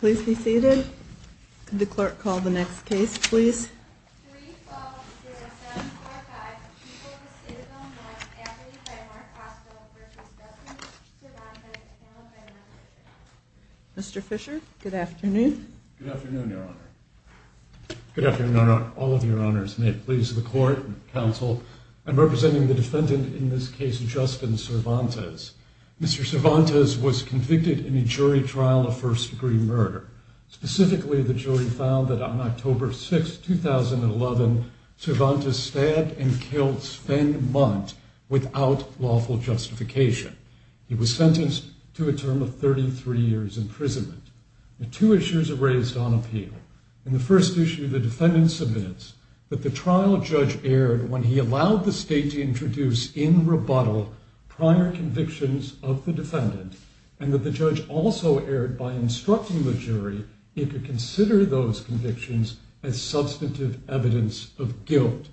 Please be seated. Could the clerk call the next case please. Mr. Fischer, good afternoon. Good afternoon, Your Honor. Good afternoon, Your Honor. All of Your Honors. May it please the court and counsel. I'm representing the defendant in this case, Justin Cervantes. Mr. Cervantes was convicted in a jury trial of first-degree murder. Specifically, the jury found that on October 6, 2011, Cervantes stabbed and killed Sven Munt without lawful justification. He was sentenced to a term of 33 years imprisonment. Two issues are raised on appeal. In the first issue, the defendant submits that the trial judge erred when he allowed the state to introduce in rebuttal prior convictions of the defendant and that the judge also erred by instructing the jury it could consider those convictions as substantive evidence of guilt.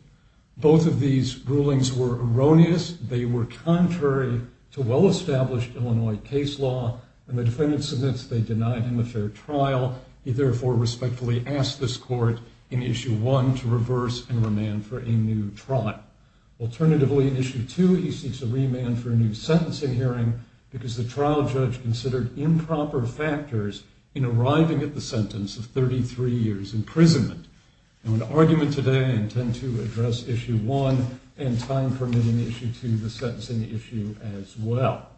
Both of these rulings were erroneous. They were contrary to well-established Illinois case law, and the defendant submits they denied him a fair trial. He therefore respectfully asks this court in issue one to reverse and remand for a new trial. In an argument today, I intend to address issue one and time-permitting issue two, the sentencing issue, as well.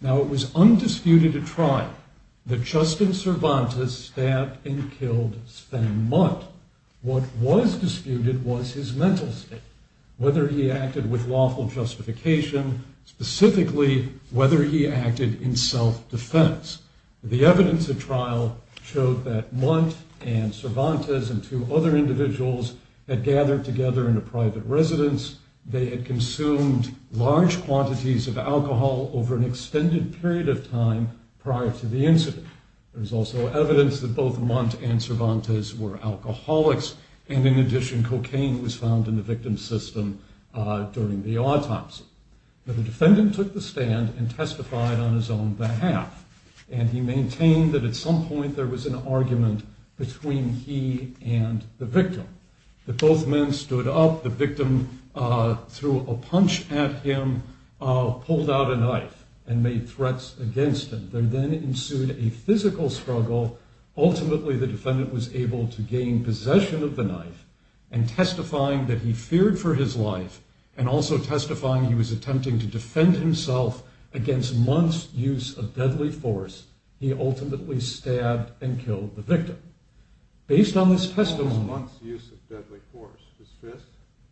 Now, it was undisputed at trial that Justin Cervantes stabbed and killed Sven Munt. What was disputed was his mental state, whether he acted with lawful justification. Specifically, whether he acted in self-defense. The evidence at trial showed that Munt and Cervantes and two other individuals had gathered together in a private residence. They had consumed large quantities of alcohol over an extended period of time prior to the incident. There was also evidence that both Munt and Cervantes were alcoholics, and in addition, cocaine was found in the victim's system during the autopsy. The defendant took the stand and testified on his own behalf, and he maintained that at some point there was an argument between he and the victim. That both men stood up, the victim threw a punch at him, pulled out a knife, and made threats against him. There then ensued a physical struggle. Ultimately, the defendant was able to gain possession of the knife, and testifying that he feared for his life, and also testifying that he was attempting to defend himself against Munt's use of deadly force, he ultimately stabbed and killed the victim. What was Munt's use of deadly force? His fist?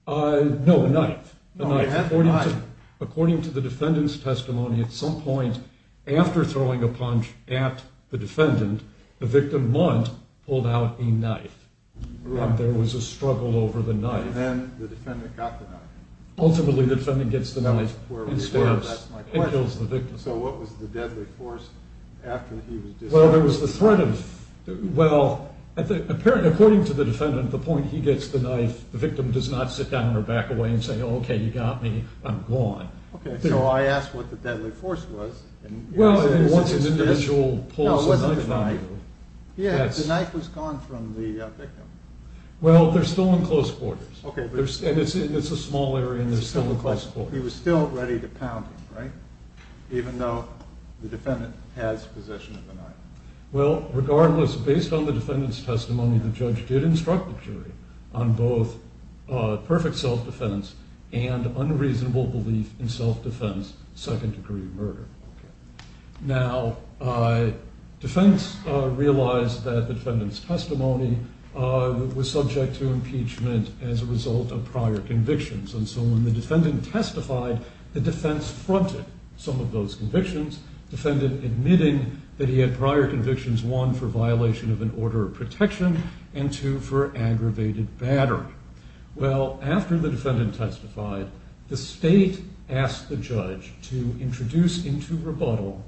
No, a knife. According to the defendant's testimony, at some point after throwing a punch at the defendant, the victim, Munt, pulled out a knife. There was a struggle over the knife. And then the defendant got the knife. Ultimately, the defendant gets the knife and stabs and kills the victim. So what was the deadly force after he was disarmed? Well, according to the defendant, at the point he gets the knife, the victim does not sit down or back away and say, okay, you got me, I'm gone. Okay, so I asked what the deadly force was. Well, once an individual pulls a knife from you. Yeah, the knife was gone from the victim. Well, they're still in close quarters. It's a small area, and they're still in close quarters. But he was still ready to pound him, right? Even though the defendant has possession of the knife. Well, regardless, based on the defendant's testimony, the judge did instruct the jury on both perfect self-defense and unreasonable belief in self-defense, second-degree murder. Now, defense realized that the defendant's testimony was subject to impeachment as a result of prior convictions. And so when the defendant testified, the defense fronted some of those convictions, defended admitting that he had prior convictions, one, for violation of an order of protection, and two, for aggravated battery. Well, after the defendant testified, the state asked the judge to introduce into rebuttal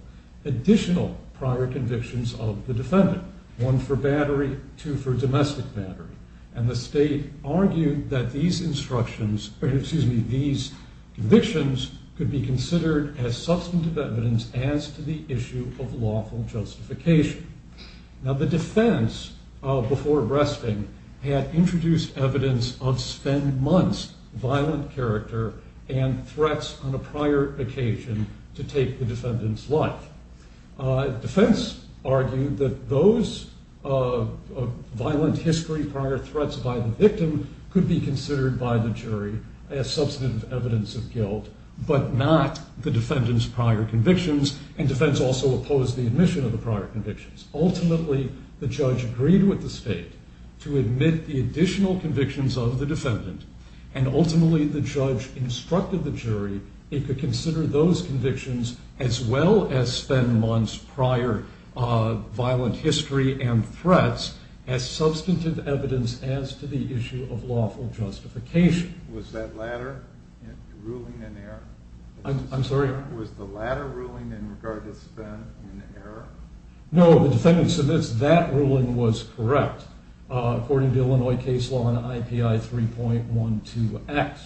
additional prior convictions of the defendant, one for battery, two for domestic battery. And the state argued that these instructions, or excuse me, these convictions could be considered as substantive evidence as to the issue of lawful justification. Now, the defense, before arresting, had introduced evidence of spend months violent character and threats on a prior occasion to take the defendant's life. Defense argued that those violent history prior threats by the victim could be considered by the jury as substantive evidence of guilt, but not the defendant's prior convictions, and defense also opposed the admission of the prior convictions. Ultimately, the judge agreed with the state to admit the additional convictions of the defendant, and ultimately the judge instructed the jury it could consider those convictions as well as spend months prior violent history and threats as substantive evidence as to the issue of lawful justification. Was that latter ruling an error? I'm sorry? Was the latter ruling in regard to spend an error? No, the defendant submits that ruling was correct, according to Illinois case law in IPI 3.12x,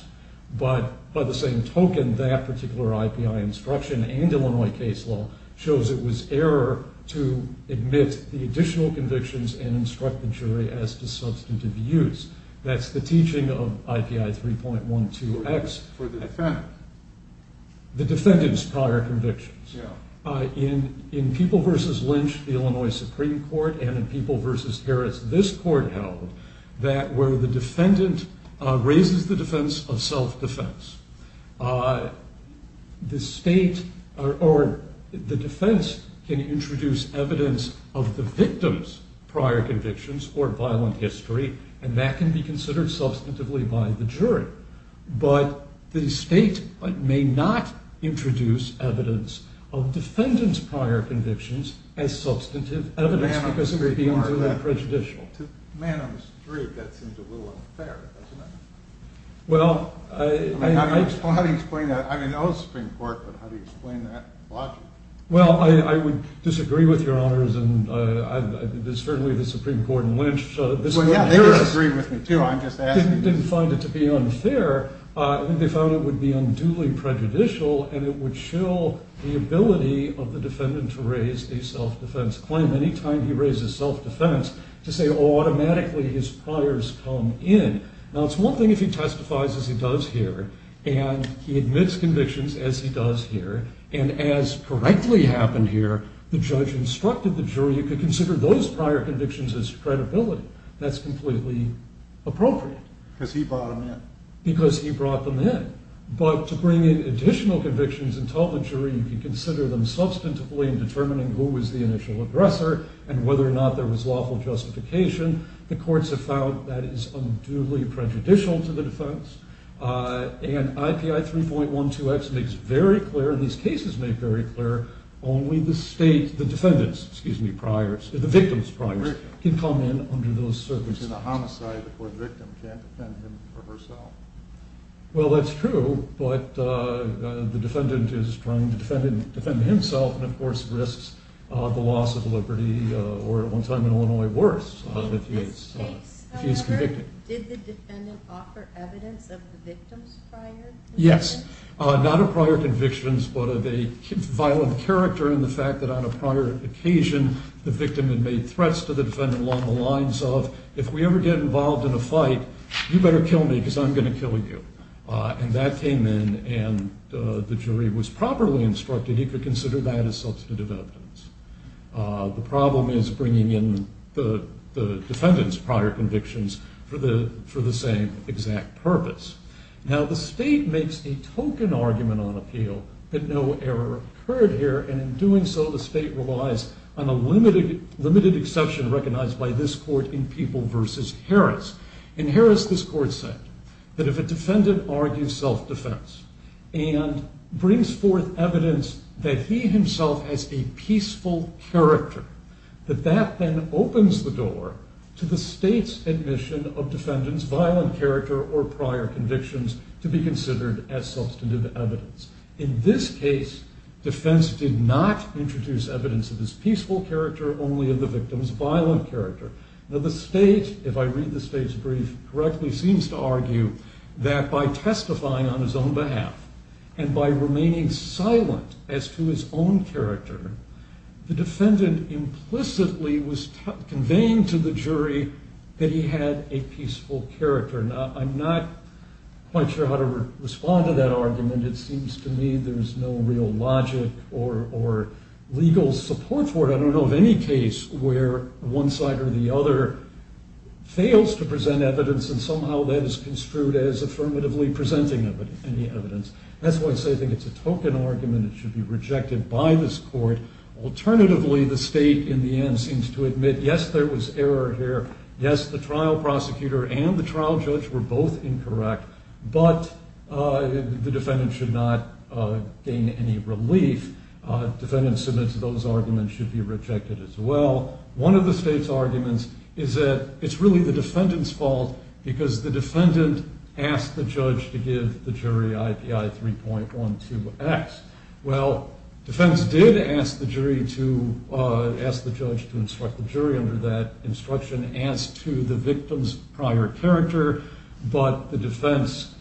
but by the same token, that particular IPI instruction and Illinois case law shows it was error to admit the additional convictions and instruct the jury as to substantive use. That's the teaching of IPI 3.12x. For the defendant? The defendant's prior convictions. Yeah. In People v. Lynch, the Illinois Supreme Court, and in People v. Harris, this court held that where the defendant raises the defense of self-defense, the state or the defense can introduce evidence of the victim's prior convictions or violent history, and that can be considered substantively by the jury, but the state may not introduce evidence of defendant's prior convictions as substantive evidence because it would be unfair and prejudicial. To a man on the street, that seems a little unfair, doesn't it? How do you explain that? I mean, I know the Supreme Court, but how do you explain that logic? Well, I would disagree with Your Honors, and certainly the Supreme Court and Lynch. Well, yeah, they disagree with me, too. I'm just asking. They didn't find it to be unfair. They found it would be unduly prejudicial, and it would shill the ability of the defendant to raise a self-defense claim. Anytime he raises self-defense, to say, oh, automatically his priors come in. Now, it's one thing if he testifies as he does here, and he admits convictions as he does here, and as correctly happened here, the judge instructed the jury to consider those prior convictions as credibility. That's completely appropriate. Because he brought them in. Because he brought them in. But to bring in additional convictions and tell the jury you can consider them substantively in determining who was the initial aggressor and whether or not there was lawful justification, the courts have found that is unduly prejudicial to the defense. And IPI 3.12x makes very clear, and these cases make very clear, only the defendant's, excuse me, the victim's priors can come in under those circumstances. The homicide where the victim can't defend him or herself. Well, that's true, but the defendant is trying to defend himself and, of course, risks the loss of liberty, or at one time in Illinois, worse if he is convicted. In this case, however, did the defendant offer evidence of the victim's prior convictions? Yes. Not of prior convictions, but of a violent character and the fact that on a prior occasion, the victim had made threats to the defendant along the lines of, if we ever get involved in a fight, you better kill me because I'm going to kill you. And that came in, and the jury was properly instructed he could consider that as substantive evidence. The problem is bringing in the defendant's prior convictions for the same exact purpose. Now, the state makes a token argument on appeal that no error occurred here, and in doing so, the state relies on a limited exception recognized by this court in People v. Harris. In Harris, this court said that if a defendant argues self-defense and brings forth evidence that he himself has a peaceful character, that that then opens the door to the state's admission of defendant's violent character or prior convictions to be considered as substantive evidence. In this case, defense did not introduce evidence of his peaceful character, only of the victim's violent character. Now, the state, if I read the state's brief correctly, seems to argue that by testifying on his own behalf and by remaining silent as to his own character, the defendant implicitly was conveying to the jury that he had a peaceful character. Now, I'm not quite sure how to respond to that argument. It seems to me there's no real logic or legal support for it. I don't know of any case where one side or the other fails to present evidence and somehow that is construed as affirmatively presenting any evidence. That's why I say I think it's a token argument. It should be rejected by this court. Alternatively, the state, in the end, seems to admit, yes, there was error here. Yes, the trial prosecutor and the trial judge were both incorrect, but the defendant should not gain any relief. Defendant submits those arguments should be rejected as well. One of the state's arguments is that it's really the defendant's fault because the defendant asked the judge to give the jury IPI 3.12X. Well, defense did ask the judge to instruct the jury under that instruction as to the victim's prior character, but the defense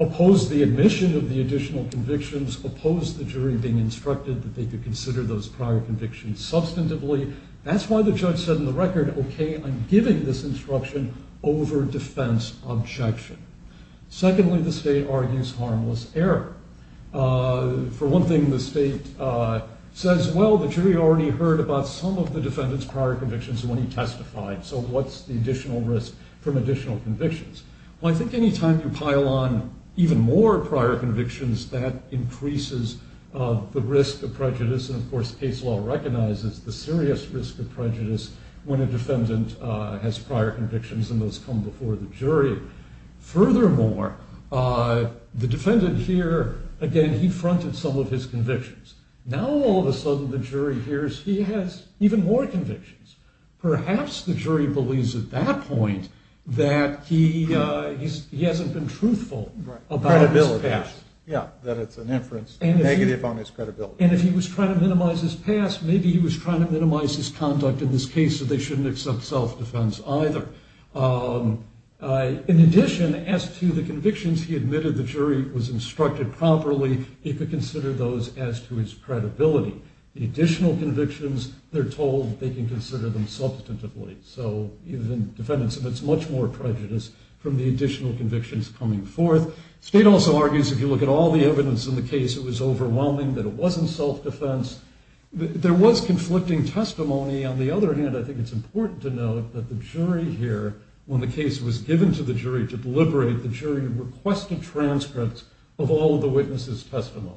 opposed the admission of the additional convictions, opposed the jury being instructed that they could consider those prior convictions substantively. That's why the judge said in the record, okay, I'm giving this instruction over defense objection. Secondly, the state argues harmless error. For one thing, the state says, well, the jury already heard about some of the defendant's prior convictions when he testified, so what's the additional risk from additional convictions? Well, I think any time you pile on even more prior convictions, that increases the risk of prejudice. And, of course, case law recognizes the serious risk of prejudice when a defendant has prior convictions and those come before the jury. Furthermore, the defendant here, again, he fronted some of his convictions. Now all of a sudden the jury hears he has even more convictions. Perhaps the jury believes at that point that he hasn't been truthful about his past. Yeah, that it's an inference negative on his credibility. And if he was trying to minimize his past, maybe he was trying to minimize his conduct in this case, so they shouldn't accept self-defense either. In addition, as to the convictions he admitted the jury was instructed properly, he could consider those as to his credibility. The additional convictions, they're told they can consider them substantively. So the defendant submits much more prejudice from the additional convictions coming forth. The state also argues if you look at all the evidence in the case, it was overwhelming, that it wasn't self-defense. There was conflicting testimony. On the other hand, I think it's important to note that the jury here, when the case was given to the jury to deliberate, the jury requested transcripts of all of the witnesses' testimony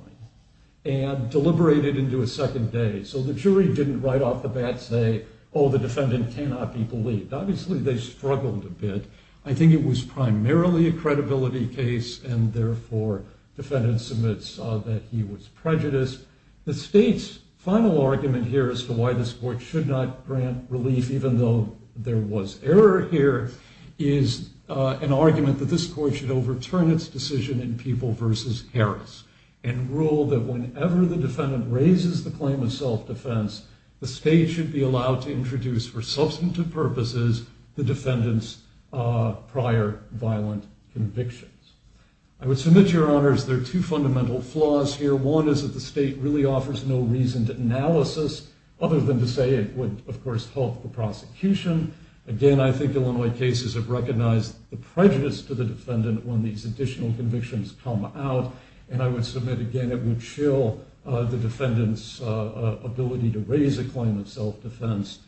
and deliberated into a second day. So the jury didn't right off the bat say, oh, the defendant cannot be believed. Obviously they struggled a bit. I think it was primarily a credibility case, and therefore defendants admits that he was prejudiced. The state's final argument here as to why this court should not grant relief, even though there was error here, is an argument that this court should overturn its decision in People v. Harris and rule that whenever the defendant raises the claim of self-defense, the state should be allowed to introduce for substantive purposes the defendant's prior violent convictions. I would submit, Your Honors, there are two fundamental flaws here. One is that the state really offers no reason to analysis, other than to say it would, of course, halt the prosecution. Again, I think Illinois cases have recognized the prejudice to the defendant when these additional convictions come out, and I would submit, again, it would chill the defendant's ability to raise a claim of self-defense.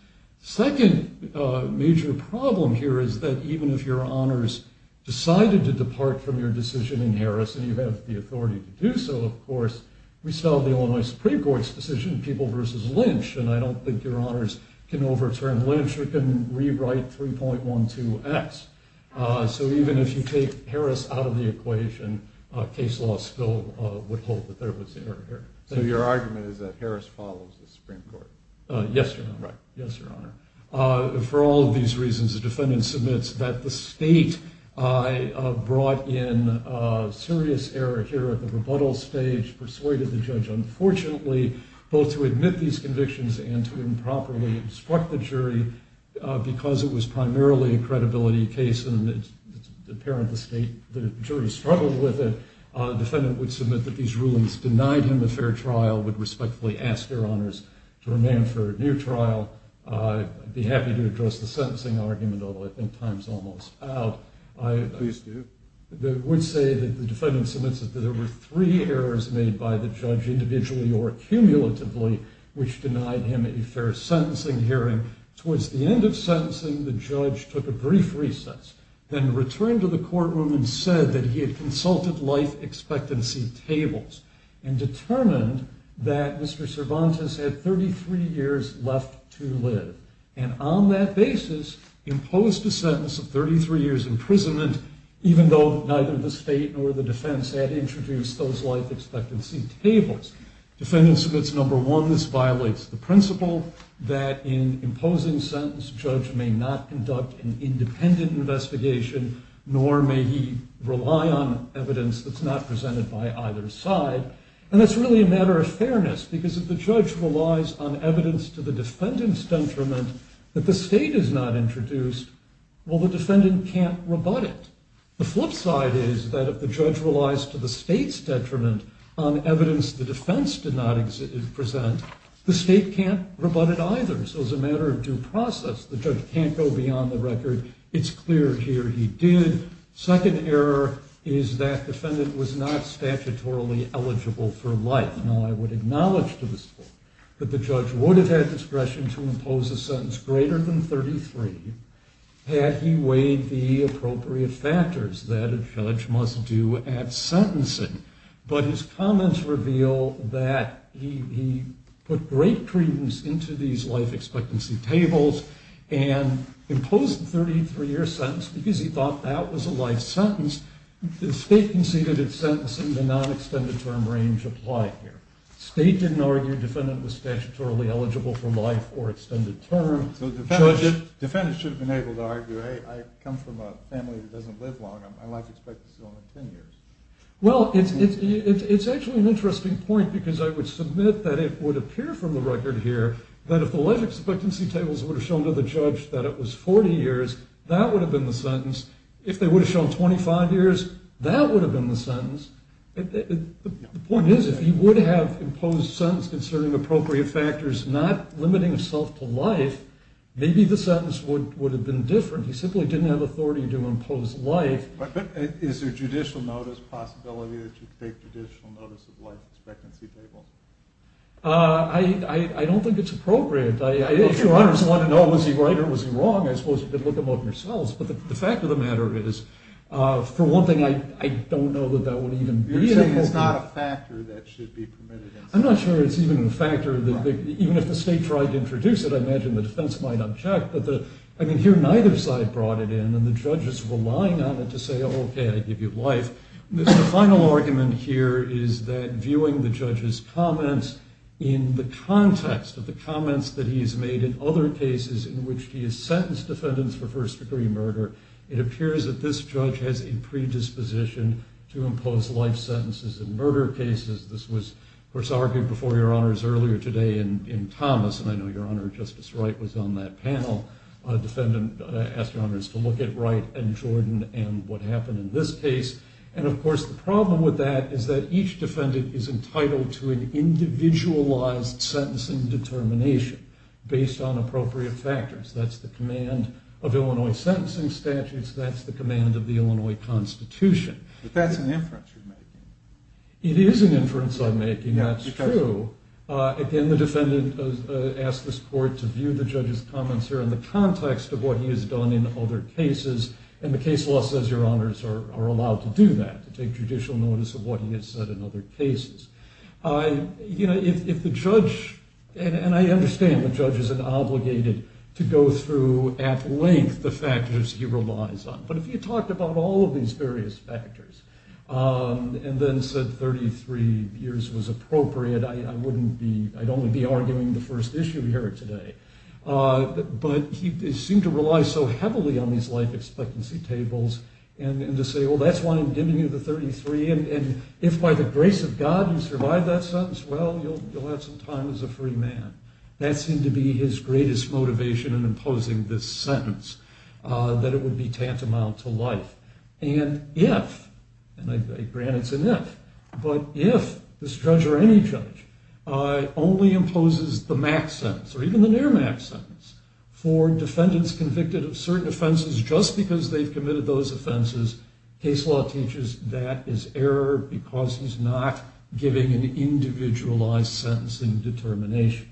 The second major problem here is that even if Your Honors decided to depart from your decision in Harris, and you have the authority to do so, of course, we still have the Illinois Supreme Court's decision, People v. Lynch, and I don't think Your Honors can overturn Lynch or can rewrite 3.12X. So even if you take Harris out of the equation, case law still would hold that there was error here. So your argument is that Harris follows the Supreme Court? Yes, Your Honor. Right. Yes, Your Honor. For all of these reasons, the defendant submits that the state brought in serious error here at the rebuttal stage, persuaded the judge, unfortunately, both to admit these convictions and to improperly obstruct the jury because it was primarily a credibility case, and it's apparent the jury struggled with it. The defendant would submit that these rulings denied him a fair trial, would respectfully ask Your Honors to remain for a new trial. I'd be happy to address the sentencing argument, although I think time's almost out. Please do. I would say that the defendant submits that there were three errors made by the judge individually or cumulatively which denied him a fair sentencing hearing. Towards the end of sentencing, the judge took a brief recess, then returned to the courtroom and said that he had consulted life expectancy tables and determined that Mr. Cervantes had 33 years left to live, and on that basis imposed a sentence of 33 years imprisonment, even though neither the state nor the defense had introduced those life expectancy tables. Defendant submits number one, this violates the principle that in imposing sentence, judge may not conduct an independent investigation, nor may he rely on evidence that's not presented by either side, and that's really a matter of fairness, because if the judge relies on evidence to the defendant's detriment that the state has not introduced, well, the defendant can't rebut it. The flip side is that if the judge relies to the state's detriment on evidence the defense did not present, the state can't rebut it either, so it's a matter of due process. The judge can't go beyond the record. It's clear here he did. Second error is that defendant was not statutorily eligible for life. Now, I would acknowledge to this point that the judge would have had discretion to impose a sentence greater than 33 had he weighed the appropriate factors that a judge must do at sentencing, but his comments reveal that he put great credence into these life expectancy tables and imposed the 33-year sentence because he thought that was a life sentence. The state conceded its sentence in the non-extended term range applied here. State didn't argue defendant was statutorily eligible for life or extended term. So defendants should have been able to argue, hey, I come from a family that doesn't live long. My life expectancy is only 10 years. Well, it's actually an interesting point because I would submit that it would appear from the record here that if the life expectancy tables would have shown to the judge that it was 40 years, that would have been the sentence. If they would have shown 25 years, that would have been the sentence. The point is if he would have imposed sentence concerning appropriate factors not limiting himself to life, maybe the sentence would have been different. He simply didn't have authority to impose life. But is there judicial notice possibility that you'd take judicial notice of life expectancy tables? I don't think it's appropriate. If your honors want to know was he right or was he wrong, I suppose you could look them up yourselves. But the fact of the matter is, for one thing, I don't know that that would even be an appropriate. You're saying it's not a factor that should be permitted. I'm not sure it's even a factor. Even if the state tried to introduce it, I imagine the defense might object. I can hear neither side brought it in, and the judge is relying on it to say, okay, I give you life. The final argument here is that viewing the judge's comments in the context of the comments that he has made in other cases in which he has sentenced defendants for first-degree murder, it appears that this judge has a predisposition to impose life sentences in murder cases. This was, of course, argued before your honors earlier today in Thomas, and I know your honor Justice Wright was on that panel. A defendant asked your honors to look at Wright and Jordan and what happened in this case. And, of course, the problem with that is that each defendant is entitled to an individualized sentencing determination based on appropriate factors. That's the command of Illinois sentencing statutes. That's the command of the Illinois Constitution. But that's an inference you're making. It is an inference I'm making. That's true. Again, the defendant asked this court to view the judge's comments here in the context of what he has done in other cases, and the case law says your honors are allowed to do that, to take judicial notice of what he has said in other cases. You know, if the judge, and I understand the judge is obligated to go through at length the factors he relies on, but if he talked about all of these various factors and then said 33 years was appropriate, I wouldn't be, I'd only be arguing the first issue here today. But he seemed to rely so heavily on these life expectancy tables and to say, well, that's why I'm giving you the 33, and if by the grace of God you survive that sentence, well, you'll have some time as a free man. That seemed to be his greatest motivation in imposing this sentence, that it would be tantamount to life. And if, and granted it's an if, but if this judge or any judge only imposes the max sentence or even the near-max sentence for defendants convicted of certain offenses just because they've committed those offenses, case law teaches that is error because he's not giving an individualized sentencing determination.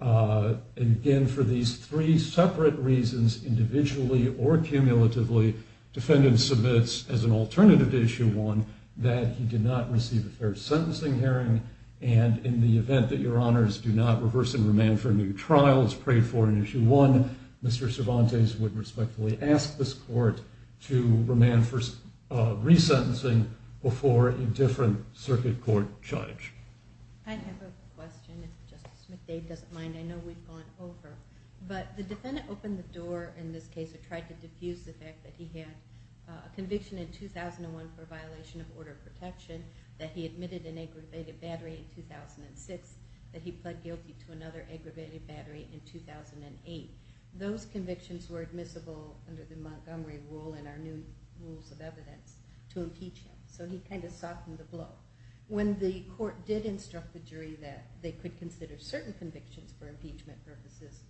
And again, for these three separate reasons, individually or cumulatively, defendants submits as an alternative to Issue 1 that he did not receive a fair sentencing hearing and in the event that your honors do not reverse and remand for new trials prayed for in Issue 1, Mr. Cervantes would respectfully ask this court to remand for resentencing before a different circuit court charge. I have a question if Justice McDade doesn't mind. I know we've gone over, but the defendant opened the door in this case or tried to defuse the fact that he had a conviction in 2001 for a violation of order of protection, that he admitted an aggravated battery in 2006, that he pled guilty to another aggravated battery in 2008. Those convictions were admissible under the Montgomery Rule and our new rules of evidence to impeach him, so he kind of softened the blow. When the court did instruct the jury that they could consider certain convictions for impeachment purposes,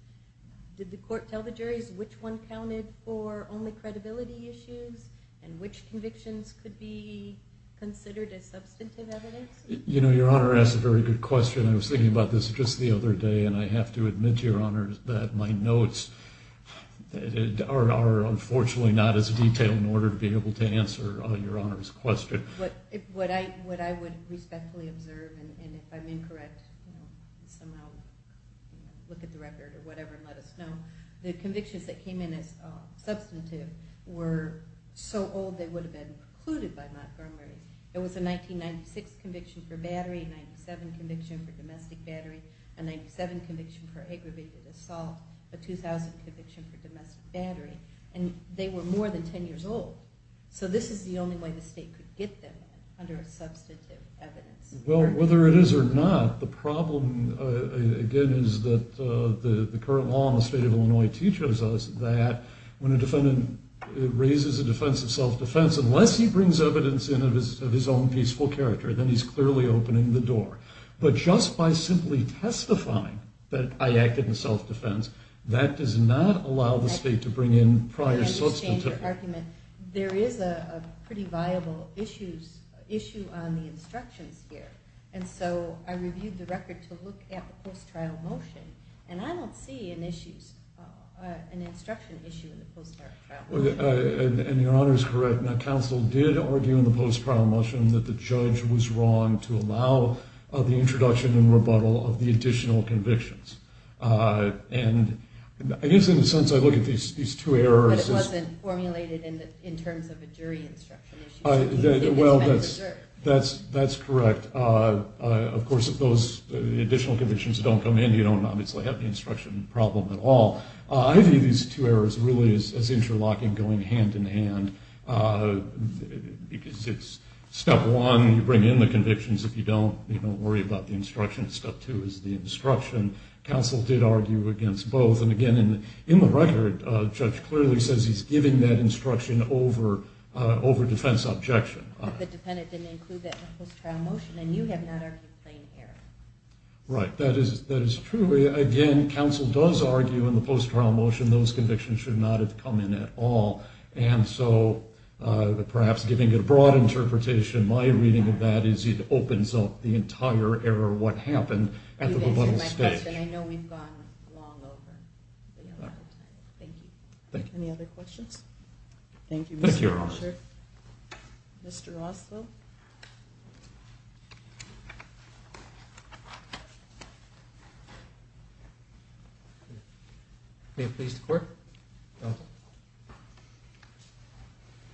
did the court tell the juries which one counted for only credibility issues and which convictions could be considered as substantive evidence? You know, Your Honor, that's a very good question. I was thinking about this just the other day, and I have to admit to Your Honor that my notes are unfortunately not as detailed in order to be able to answer Your Honor's question. What I would respectfully observe, and if I'm incorrect, look at the record or whatever and let us know, the convictions that came in as substantive were so old they would have been precluded by Montgomery. It was a 1996 conviction for battery, a 1997 conviction for domestic battery, a 1997 conviction for aggravated assault, a 2000 conviction for domestic battery, and they were more than 10 years old. So this is the only way the state could get them under substantive evidence. Well, whether it is or not, the problem, again, is that the current law in the state of Illinois teaches us that when a defendant raises a defense of self-defense, unless he brings evidence in of his own peaceful character, then he's clearly opening the door. But just by simply testifying that I acted in self-defense, that does not allow the state to bring in prior substantive evidence. There is a pretty viable issue on the instructions here, and so I reviewed the record to look at the post-trial motion, and I don't see an instruction issue in the post-trial motion. And Your Honor is correct. Now, counsel did argue in the post-trial motion that the judge was wrong to allow the introduction and rebuttal of the additional convictions. And I guess in a sense I look at these two errors as- But it wasn't formulated in terms of a jury instruction issue. Well, that's correct. Of course, if those additional convictions don't come in, you don't obviously have the instruction problem at all. I view these two errors really as interlocking, going hand-in-hand. Because it's step one, you bring in the convictions. If you don't, you don't worry about the instruction. Step two is the instruction. Counsel did argue against both. And again, in the record, the judge clearly says he's giving that instruction over defense objection. But the defendant didn't include that in the post-trial motion, and you have not argued plain error. Right, that is true. Again, counsel does argue in the post-trial motion those convictions should not have come in at all. And so perhaps giving a broad interpretation, my reading of that is it opens up the entire error of what happened at the rebuttal stage. You've answered my question. I know we've gone long over. Thank you. Thank you. Any other questions? Thank you. Thank you, Your Honor. Mr. Roswell. May it please the Court. Counsel.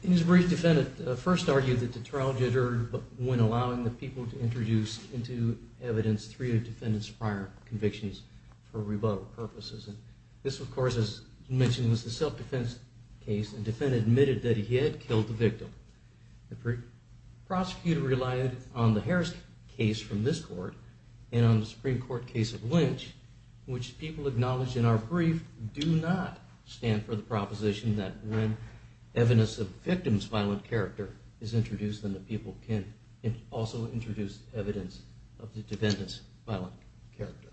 In his brief, the defendant first argued that the trial deterred when allowing the people to introduce into evidence three of the defendant's prior convictions for rebuttal purposes. This, of course, as mentioned, was a self-defense case, and the defendant admitted that he had killed the victim. The prosecutor relied on the Harris case from this Court and on the Supreme Court case of Lynch, which people acknowledge in our brief do not stand for the proposition that when evidence of the victim's violent character is introduced, then the people can also introduce evidence of the defendant's violent character.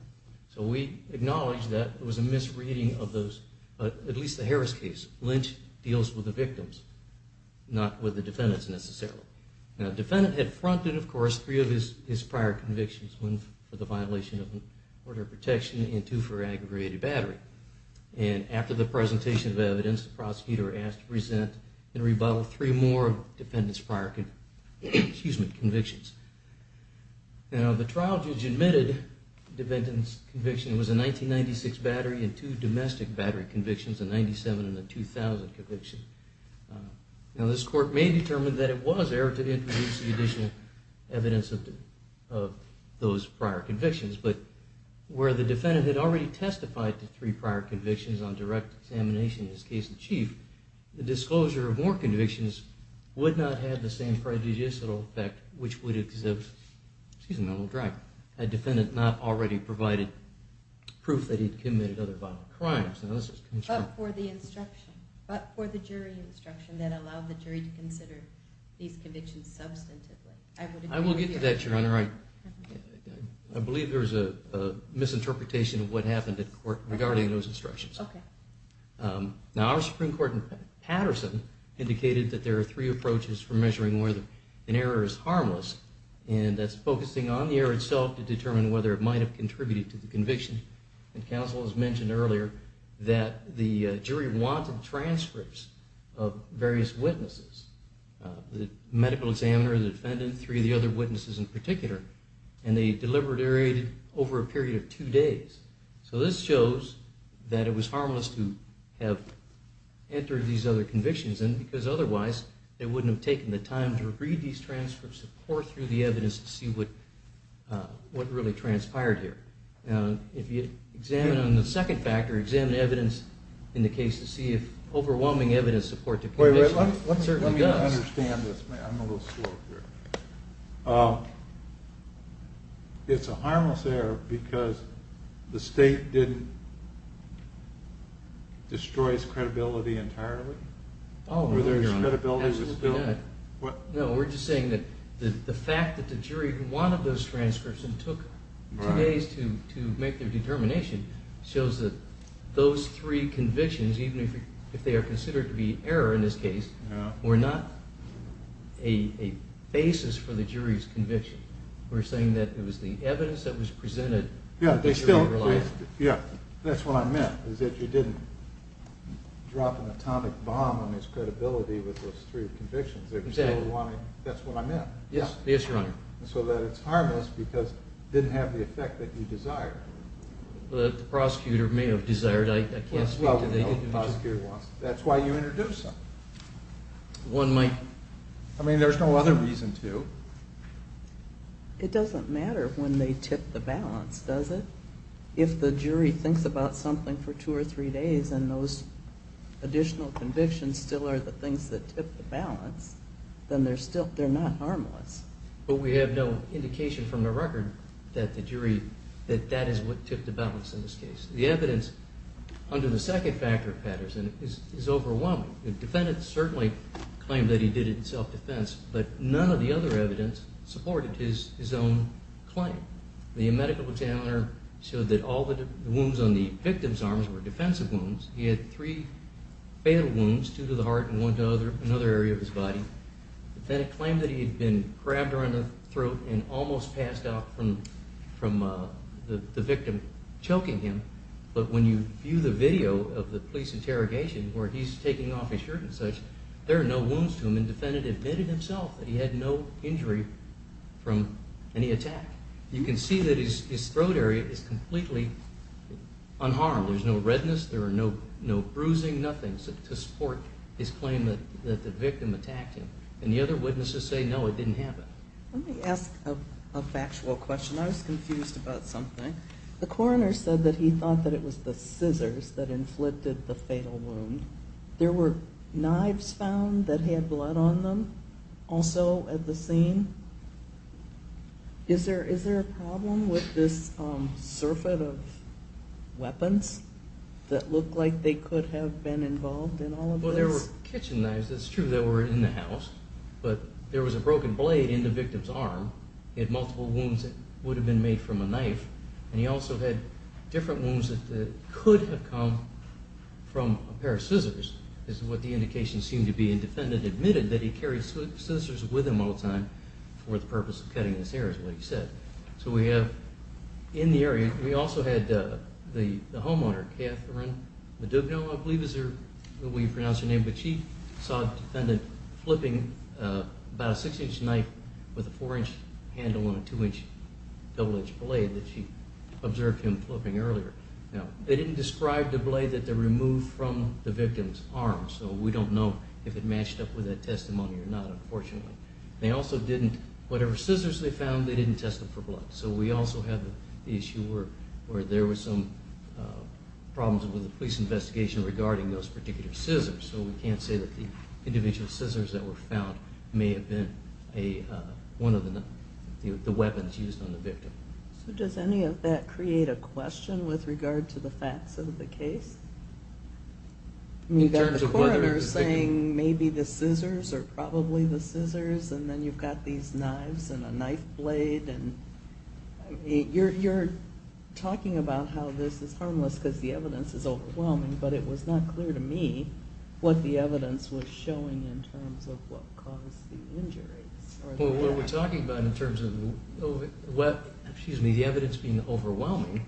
So we acknowledge that it was a misreading of those, at least the Harris case. Lynch deals with the victims, not with the defendants necessarily. Now the defendant had fronted, of course, three of his prior convictions, one for the violation of order of protection and two for aggravated battery. And after the presentation of evidence, the prosecutor asked to present and rebuttal three more of the defendant's prior convictions. Now the trial judge admitted the defendant's conviction was a 1996 battery and two domestic battery convictions, a 1997 and a 2000 conviction. Now this Court may determine that it was error to introduce the additional evidence of those prior convictions, but where the defendant had already testified to three prior convictions on direct examination in his case in chief, the disclosure of more convictions would not have the same prejudicial effect, which would exhibit a defendant not already provided proof that he had committed other violent crimes. But for the instruction, but for the jury instruction that allowed the jury to consider these convictions substantively. I will get to that, Your Honor. I believe there's a misinterpretation of what happened at court regarding those instructions. Now our Supreme Court in Patterson indicated that there are three approaches for measuring whether an error is harmless, and that's focusing on the error itself to determine whether it might have contributed to the conviction. And counsel has mentioned earlier that the jury wanted transcripts of various witnesses, the medical examiner, the defendant, three of the other witnesses in particular, and they deliberated over a period of two days. So this shows that it was harmless to have entered these other convictions in because otherwise they wouldn't have taken the time to read these transcripts and pour through the evidence to see what really transpired here. If you examine on the second factor, examine the evidence in the case to see if overwhelming evidence supports the conviction, it certainly does. Let me understand this. I'm a little slow here. It's a harmless error because the state didn't destroy its credibility entirely? Oh, no, Your Honor. Absolutely not. No, we're just saying that the fact that the jury wanted those transcripts and took two days to make their determination shows that those three convictions, even if they are considered to be error in this case, were not a basis for the jury's conviction. We're saying that it was the evidence that was presented that the jury relied on. Yeah, that's what I meant, is that you didn't drop an atomic bomb on his credibility with those three convictions. Exactly. That's what I meant. Yes, Your Honor. So that it's harmless because it didn't have the effect that you desired. The prosecutor may have desired. I can't speak to that. That's why you introduced them. One might... I mean, there's no other reason to. It doesn't matter when they tip the balance, does it? If the jury thinks about something for two or three days and those additional convictions still are the things that tip the balance, then they're not harmless. But we have no indication from the record that the jury, that that is what tipped the balance in this case. The evidence under the second factor of Patterson is overwhelming. The defendant certainly claimed that he did it in self-defense, but none of the other evidence supported his own claim. The medical examiner showed that all the wounds on the victim's arms were defensive wounds. He had three fatal wounds, two to the heart and one to another area of his body. The defendant claimed that he had been grabbed around the throat and almost passed out from the victim choking him. But when you view the video of the police interrogation where he's taking off his shirt and such, there are no wounds to him. The defendant admitted himself that he had no injury from any attack. You can see that his throat area is completely unharmed. There's no redness, there are no bruising, nothing to support his claim that the victim attacked him. And the other witnesses say, no, it didn't happen. Let me ask a factual question. I was confused about something. The coroner said that he thought that it was the scissors that inflicted the fatal wound. There were knives found that had blood on them also at the scene. Is there a problem with this surfeit of weapons that looked like they could have been involved in all of this? Well, there were kitchen knives. It's true they were in the house. But there was a broken blade in the victim's arm. He had multiple wounds that would have been made from a knife. And he also had different wounds that could have come from a pair of scissors, is what the indications seem to be. The defendant admitted that he carried scissors with him all the time for the purpose of cutting his hair, is what he said. So we have in the area, we also had the homeowner, Catherine Madugno, I believe is what we pronounce her name, but she saw the defendant flipping about a six-inch knife with a four-inch handle and a two-inch double-edged blade that she observed him flipping earlier. Now, they didn't describe the blade that they removed from the victim's arm, so we don't know if it matched up with that testimony or not, unfortunately. They also didn't, whatever scissors they found, they didn't test them for blood. So we also have the issue where there were some problems with the police investigation regarding those particular scissors. So we can't say that the individual scissors that were found may have been one of the weapons used on the victim. So does any of that create a question with regard to the facts of the case? You've got the coroner saying maybe the scissors are probably the scissors, and then you've got these knives and a knife blade. You're talking about how this is harmless because the evidence is overwhelming, but it was not clear to me what the evidence was showing in terms of what caused the injuries. Well, what we're talking about in terms of the evidence being overwhelming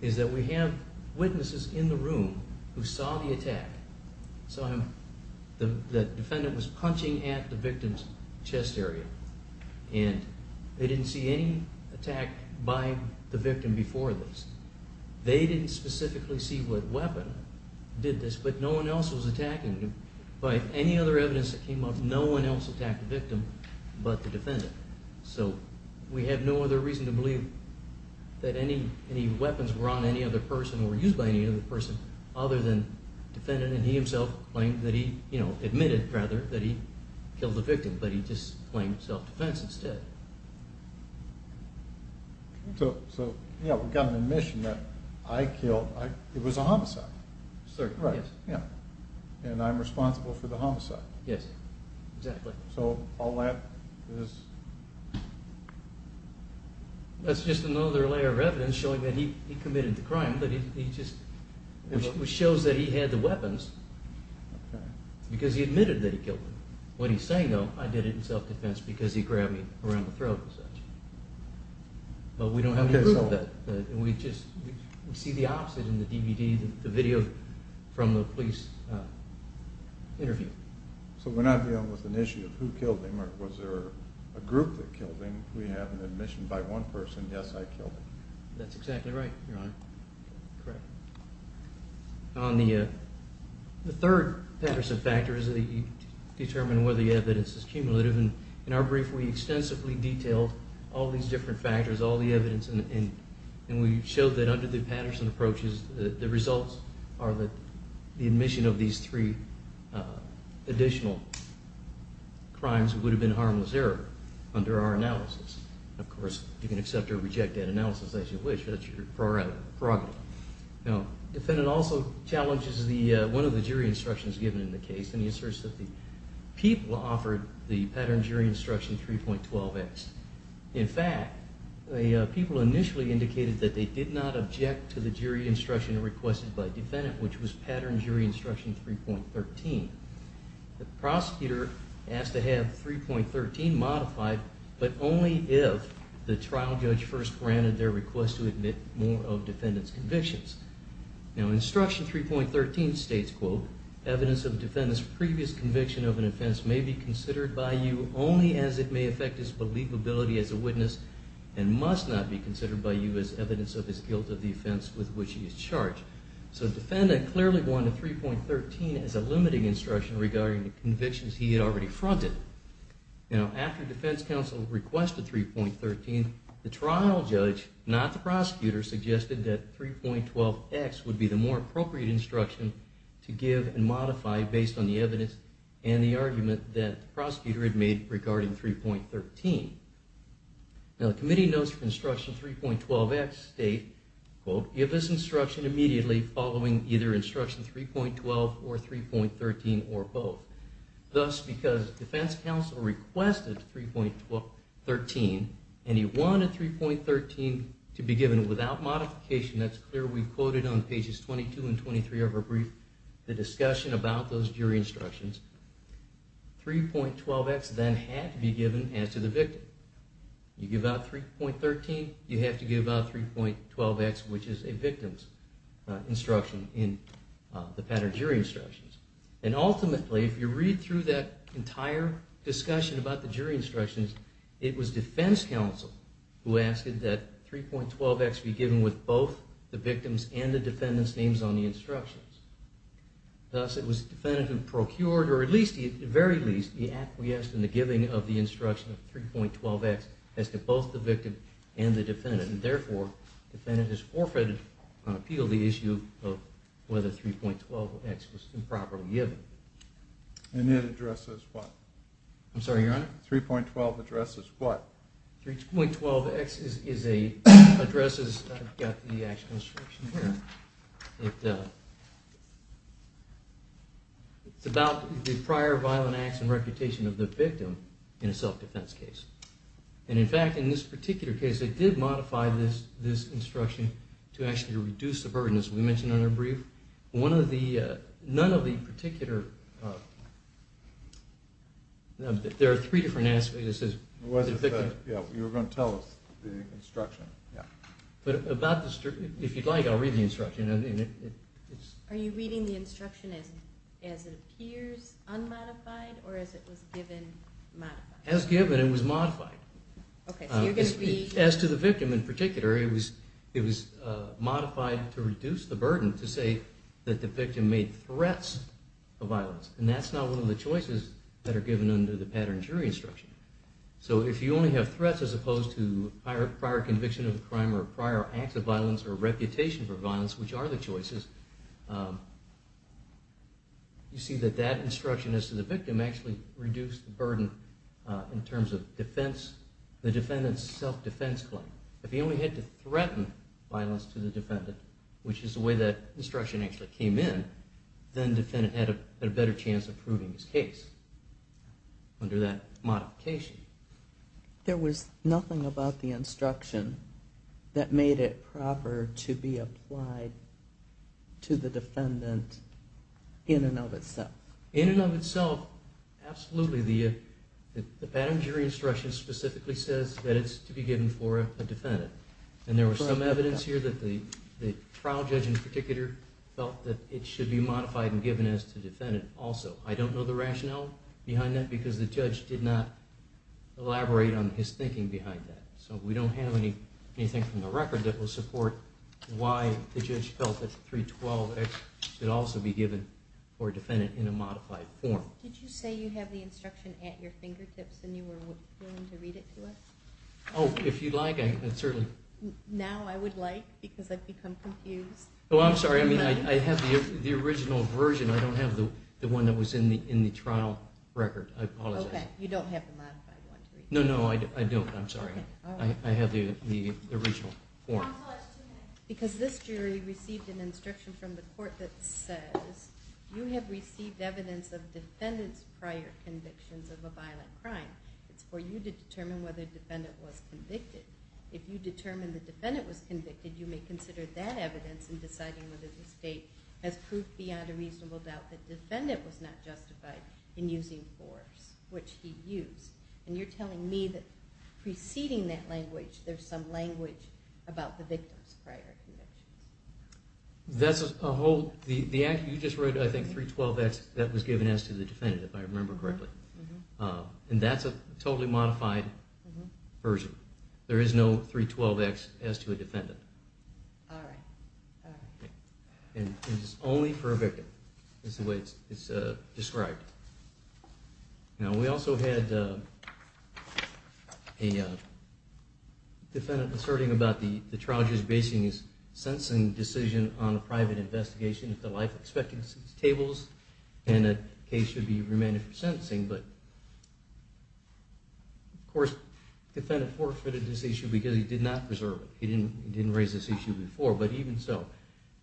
is that we have witnesses in the room who saw the attack, saw that the defendant was punching at the victim's chest area, and they didn't see any attack by the victim before this. They didn't specifically see what weapon did this, but no one else was attacking him. By any other evidence that came up, no one else attacked the victim but the defendant. So we have no other reason to believe that any weapons were on any other person or used by any other person other than the defendant, and he himself admitted that he killed the victim, but he just claimed self-defense instead. So we've got an admission that I killed. It was a homicide. And I'm responsible for the homicide. Yes, exactly. So all that is... That's just another layer of evidence showing that he committed the crime, but it just shows that he had the weapons because he admitted that he killed him. When he's saying no, I did it in self-defense because he grabbed me around the throat and such. But we don't have any proof of that. We see the opposite in the DVD, the video from the police interview. So we're not dealing with an issue of who killed him or was there a group that killed him. We have an admission by one person, yes, I killed him. That's exactly right, Your Honor. Correct. The third Patterson factor is that you determine whether the evidence is cumulative. In our brief, we extensively detailed all these different factors, all the evidence, and we showed that under the Patterson approaches, the results are the admission of these three additional crimes that would have been harmless error under our analysis. Of course, you can accept or reject that analysis as you wish. That's your prerogative. Now, the defendant also challenges one of the jury instructions given in the case, and he asserts that the people offered the Pattern Jury Instruction 3.12x. In fact, the people initially indicated that they did not object to the jury instruction requested by the defendant, which was Pattern Jury Instruction 3.13. The prosecutor asked to have 3.13 modified, but only if the trial judge first granted their request to admit more of the defendant's convictions. Now, Instruction 3.13 states, quote, So the defendant clearly wanted 3.13 as a limiting instruction regarding the convictions he had already fronted. Now, after the defense counsel requested 3.13, the trial judge, not the prosecutor, suggested that 3.12x would be the more appropriate instruction to give and modify based on the evidence and the argument that the prosecutor had made regarding 3.13. Now, the committee notes that Instruction 3.12x states, quote, You have this instruction immediately following either Instruction 3.12 or 3.13 or both. Thus, because the defense counsel requested 3.13, and he wanted 3.13 to be given without modification, that's clear we quoted on pages 22 and 23 of our brief the discussion about those jury instructions. 3.12x then had to be given as to the victim. You give out 3.13, you have to give out 3.12x, which is a victim's instruction in the pattern jury instructions. And ultimately, if you read through that entire discussion about the jury instructions, it was defense counsel who asked that 3.12x be given with both the victim's and the defendant's names on the instructions. Thus, it was the defendant who procured, or at the very least, he acquiesced in the giving of the instruction of 3.12x as to both the victim and the defendant. And therefore, the defendant has forfeited on appeal the issue of whether 3.12x was improperly given. And that addresses what? I'm sorry, Your Honor? 3.12 addresses what? 3.12x addresses, I've got the actual instruction here. It's about the prior violent acts and reputation of the victim in a self-defense case. And in fact, in this particular case, they did modify this instruction to actually reduce the burden, as we mentioned in our brief. None of the particular – there are three different aspects. You were going to tell us the instruction. If you'd like, I'll read the instruction. Are you reading the instruction as it appears unmodified or as it was given modified? As given, it was modified. Okay, so you're going to be – As to the victim in particular, it was modified to reduce the burden to say that the victim made threats of violence. And that's not one of the choices that are given under the pattern jury instruction. So if you only have threats as opposed to prior conviction of a crime or prior acts of violence or reputation for violence, which are the choices, you see that that instruction as to the victim actually reduced the burden in terms of defense. The defendant's self-defense claim. If he only had to threaten violence to the defendant, which is the way that instruction actually came in, then the defendant had a better chance of proving his case under that modification. There was nothing about the instruction that made it proper to be applied to the defendant in and of itself? In and of itself, absolutely. The pattern jury instruction specifically says that it's to be given for a defendant. And there was some evidence here that the trial judge in particular felt that it should be modified and given as to defendant also. I don't know the rationale behind that because the judge did not elaborate on his thinking behind that. So we don't have anything from the record that will support why the judge felt that 312X should also be given for a defendant in a modified form. Did you say you have the instruction at your fingertips and you were willing to read it to us? Oh, if you'd like. Now I would like because I've become confused. Oh, I'm sorry. I have the original version. I don't have the one that was in the trial record. I apologize. Okay. You don't have the modified one? No, no, I don't. I'm sorry. I have the original form. Because this jury received an instruction from the court that says you have received evidence of defendant's prior convictions of a violent crime. It's for you to determine whether the defendant was convicted. If you determine the defendant was convicted, you may consider that evidence in deciding whether the state has proof beyond a reasonable doubt that the defendant was not justified in using force, which he used. And you're telling me that preceding that language, there's some language about the victim's prior convictions. That's a whole – you just read, I think, 312X. That was given as to the defendant, if I remember correctly. And that's a totally modified version. There is no 312X as to a defendant. All right. And it's only for a victim. That's the way it's described. Now, we also had a defendant asserting about the trial judge basing his sentencing decision on a private investigation if the life expectancy tables and the case should be remanded for sentencing. But, of course, the defendant forfeited this issue because he did not preserve it. He didn't raise this issue before. But even so,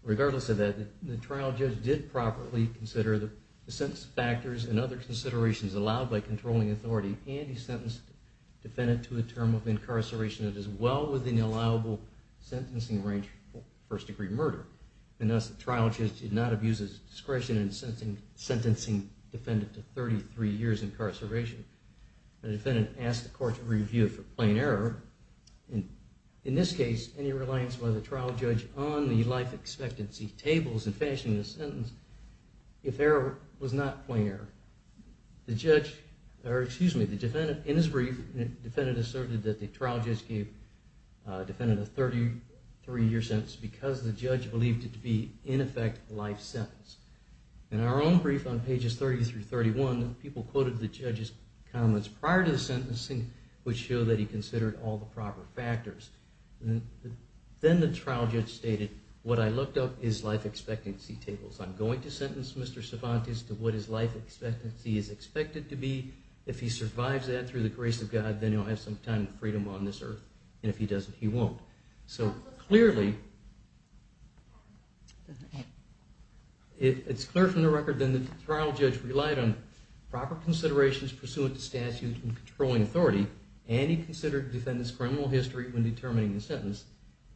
regardless of that, the trial judge did properly consider the sentence factors and other considerations allowed by controlling authority, and he sentenced the defendant to a term of incarceration that is well within the allowable sentencing range for first-degree murder. And thus, the trial judge did not abuse his discretion in sentencing the defendant to 33 years incarceration. The defendant asked the court to review it for plain error. In this case, any reliance by the trial judge on the life expectancy tables in finishing the sentence, if error was not plain error. The judge, or excuse me, the defendant, in his brief, the defendant asserted that the trial judge gave the defendant a 33-year sentence because the judge believed it to be, in effect, a life sentence. In our own brief on pages 30-31, people quoted the judge's comments prior to the sentencing which showed that he considered all the proper factors. Then the trial judge stated, what I looked up is life expectancy tables. I'm going to sentence Mr. Cervantes to what his life expectancy is expected to be. If he survives that through the grace of God, then he'll have some time and freedom on this earth. And if he doesn't, he won't. So clearly, it's clear from the record that the trial judge relied on proper considerations pursuant to statute and controlling authority. And he considered the defendant's criminal history when determining the sentence.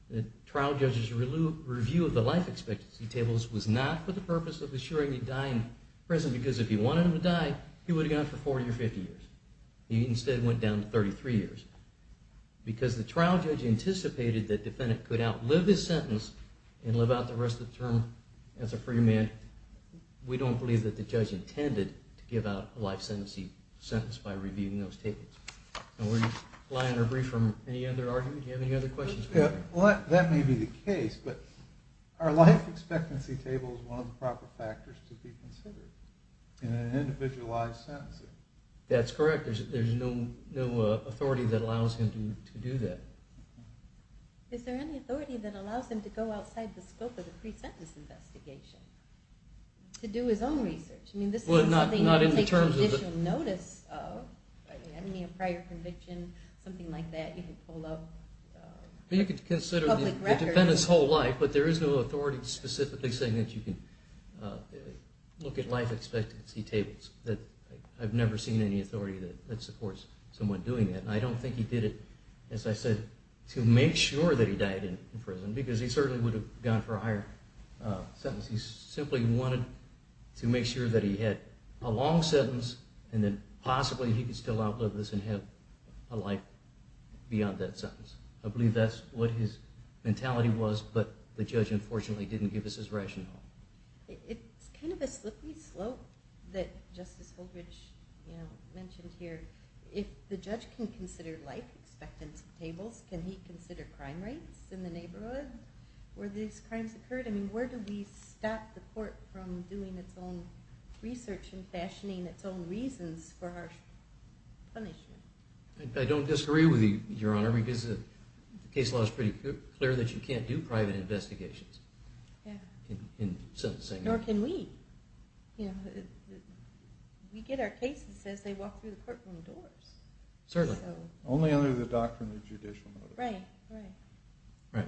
The trial judge's review of the life expectancy tables was not for the purpose of assuring he died in prison because if he wanted him to die, he would have gone for 40 or 50 years. He instead went down to 33 years. Because the trial judge anticipated that the defendant could outlive his sentence and live out the rest of the term as a free man, we don't believe that the judge intended to give out a life sentencing sentence by reviewing those tables. Do you have any other questions? That may be the case, but are life expectancy tables one of the proper factors to be considered in an individualized sentencing? That's correct. There's no authority that allows him to do that. Is there any authority that allows him to go outside the scope of the pre-sentence investigation to do his own research? Well, not in the terms of... I mean, a prior conviction, something like that. You could consider the defendant's whole life, but there is no authority specifically saying that you can look at life expectancy tables. I've never seen any authority that supports someone doing that. I don't think he did it, as I said, to make sure that he died in prison because he certainly would have gone for a higher sentence. He simply wanted to make sure that he had a long sentence and then possibly he could still outlive this and have a life beyond that sentence. I believe that's what his mentality was, but the judge unfortunately didn't give us his rationale. It's kind of a slippy slope that Justice Holbridge mentioned here. If the judge can consider life expectancy tables, can he consider crime rates in the neighborhood where these crimes occurred? I mean, where do we stop the court from doing its own research and fashioning its own reasons for our punishment? I don't disagree with you, Your Honor, because the case law is pretty clear that you can't do private investigations in sentencing. Nor can we. We get our cases and it says they walk through the courtroom doors. Certainly. Only under the doctrine of judicial motions. Right. Right.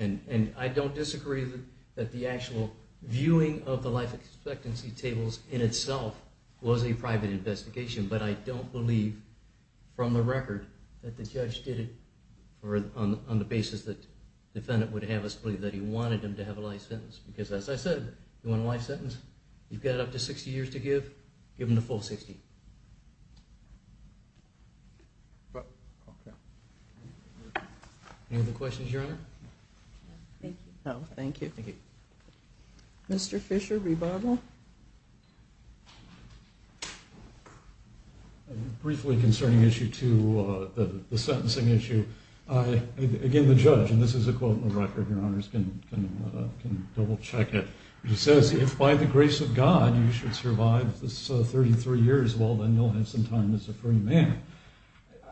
And I don't disagree that the actual viewing of the life expectancy tables in itself was a private investigation, but I don't believe from the record that the judge did it on the basis that the defendant would have us believe that he wanted him to have a life sentence. Because as I said, you want a life sentence? You've got up to 60 years to give. Give him the full 60. Any other questions, Your Honor? No, thank you. Mr. Fisher, rebuttal. Briefly concerning issue two, the sentencing issue. Again, the judge, and this is a quote on the record, Your Honor, can double check it. He says, if by the grace of God you should survive this 33 years, well then you'll have some time as a free man.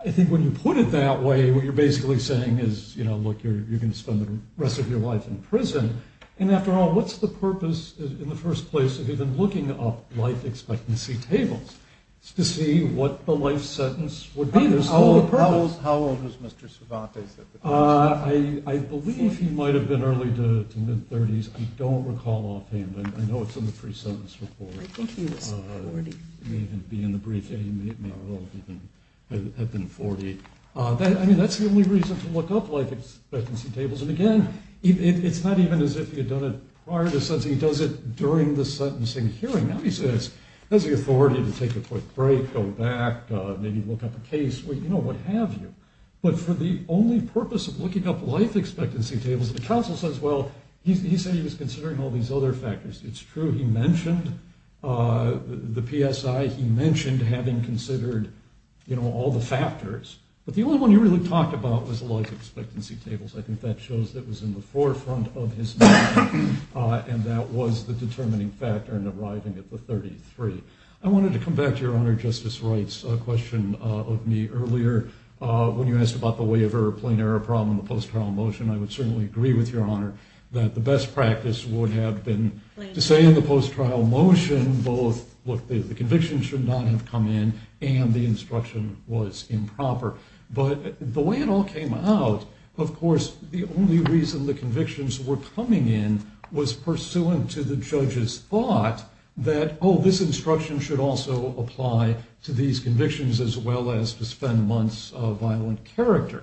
I think when you put it that way, what you're basically saying is, you know, look, you're going to spend the rest of your life in prison. And after all, what's the purpose in the first place of even looking up life expectancy tables? It's to see what the life sentence would be. How old was Mr. Cervantes at the time? I believe he might have been early to mid-30s. I don't recall offhand. I know it's in the free sentence report. I think he was 40. It may even be in the brief. He may well have been 40. I mean, that's the only reason to look up life expectancy tables. And again, it's not even as if he had done it prior to sentencing. He does it during the sentencing hearing. Now he has the authority to take a quick break, go back, maybe look up a case, you know, what have you. But for the only purpose of looking up life expectancy tables, the counsel says, well, he said he was considering all these other factors. It's true he mentioned the PSI. He mentioned having considered, you know, all the factors. But the only one he really talked about was life expectancy tables. I think that shows that it was in the forefront of his mind, and that was the determining factor in arriving at the 33. I wanted to come back to Your Honor Justice Wright's question of me earlier. When you asked about the way of error, plain error problem in the post-trial motion, I would certainly agree with Your Honor that the best practice would have been to say in the post-trial motion both, look, the conviction should not have come in and the instruction was improper. But the way it all came out, of course, the only reason the convictions were coming in was pursuant to the judge's thought that, oh, this instruction should also apply to these convictions as well as to spend months of violent character.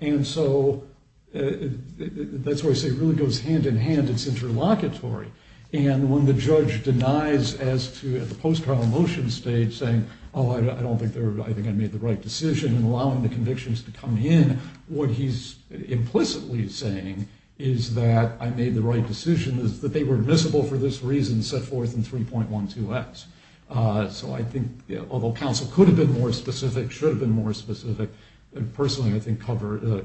And so that's where I say it really goes hand-in-hand. It's interlocutory. And when the judge denies as to at the post-trial motion stage saying, oh, I don't think I made the right decision, and allowing the convictions to come in, what he's implicitly saying is that I made the right decision, is that they were admissible for this reason set forth in 3.12X. So I think although counsel could have been more specific, should have been more specific, and personally I think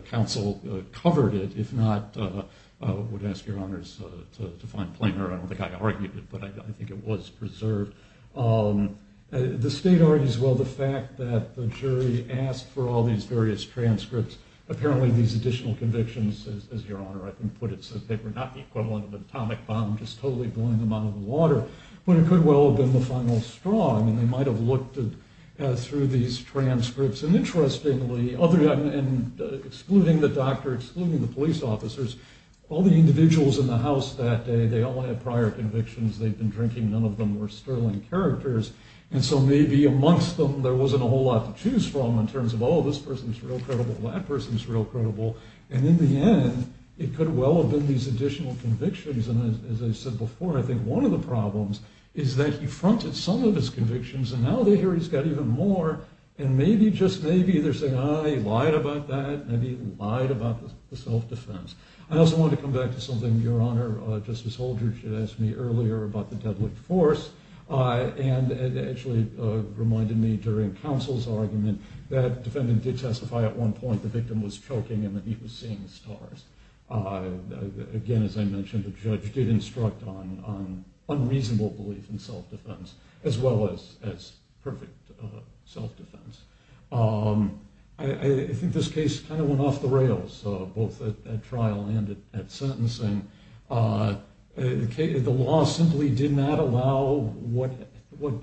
counsel covered it. If not, I would ask Your Honors to find plainer. I don't think I argued it, but I think it was preserved. The state argues, well, the fact that the jury asked for all these various transcripts, apparently these additional convictions, as Your Honor, I think, put it, said they were not the equivalent of an atomic bomb just totally blowing them out of the water, but it could well have been the final straw. I mean, they might have looked through these transcripts. And interestingly, excluding the doctor, excluding the police officers, all the individuals in the House that day, they all had prior convictions. They'd been drinking. None of them were sterling characters. And so maybe amongst them there wasn't a whole lot to choose from in terms of, oh, this person's real credible, that person's real credible. And in the end, it could well have been these additional convictions. And as I said before, I think one of the problems is that he fronted some of his convictions, and now they hear he's got even more, and maybe, just maybe, they're saying, oh, he lied about that, maybe he lied about the self-defense. I also wanted to come back to something Your Honor, Justice Holder, had asked me earlier about the deadly force, and it actually reminded me during counsel's argument that the defendant did testify at one point the victim was choking and that he was seeing stars. Again, as I mentioned, the judge did instruct on unreasonable belief in self-defense, as well as perfect self-defense. I think this case kind of went off the rails, both at trial and at sentencing. The law simply did not allow what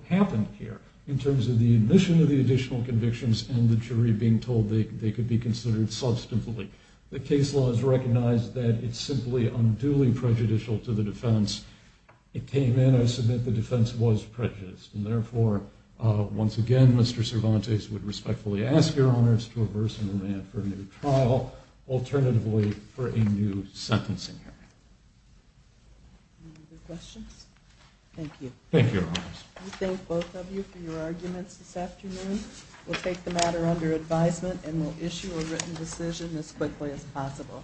happened here in terms of the admission of the additional convictions and the jury being told they could be considered substantively. The case law has recognized that it's simply unduly prejudicial to the defense. It came in, I submit, the defense was prejudiced, and therefore, once again, Mr. Cervantes would respectfully ask Your Honors to reverse the demand for a new trial, alternatively for a new sentencing hearing. Any other questions? Thank you. Thank you, Your Honors. We thank both of you for your arguments this afternoon. We'll take the matter under advisement and we'll issue a written decision as quickly as possible.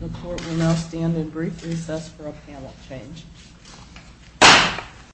The court will now stand in brief recess for a panel change.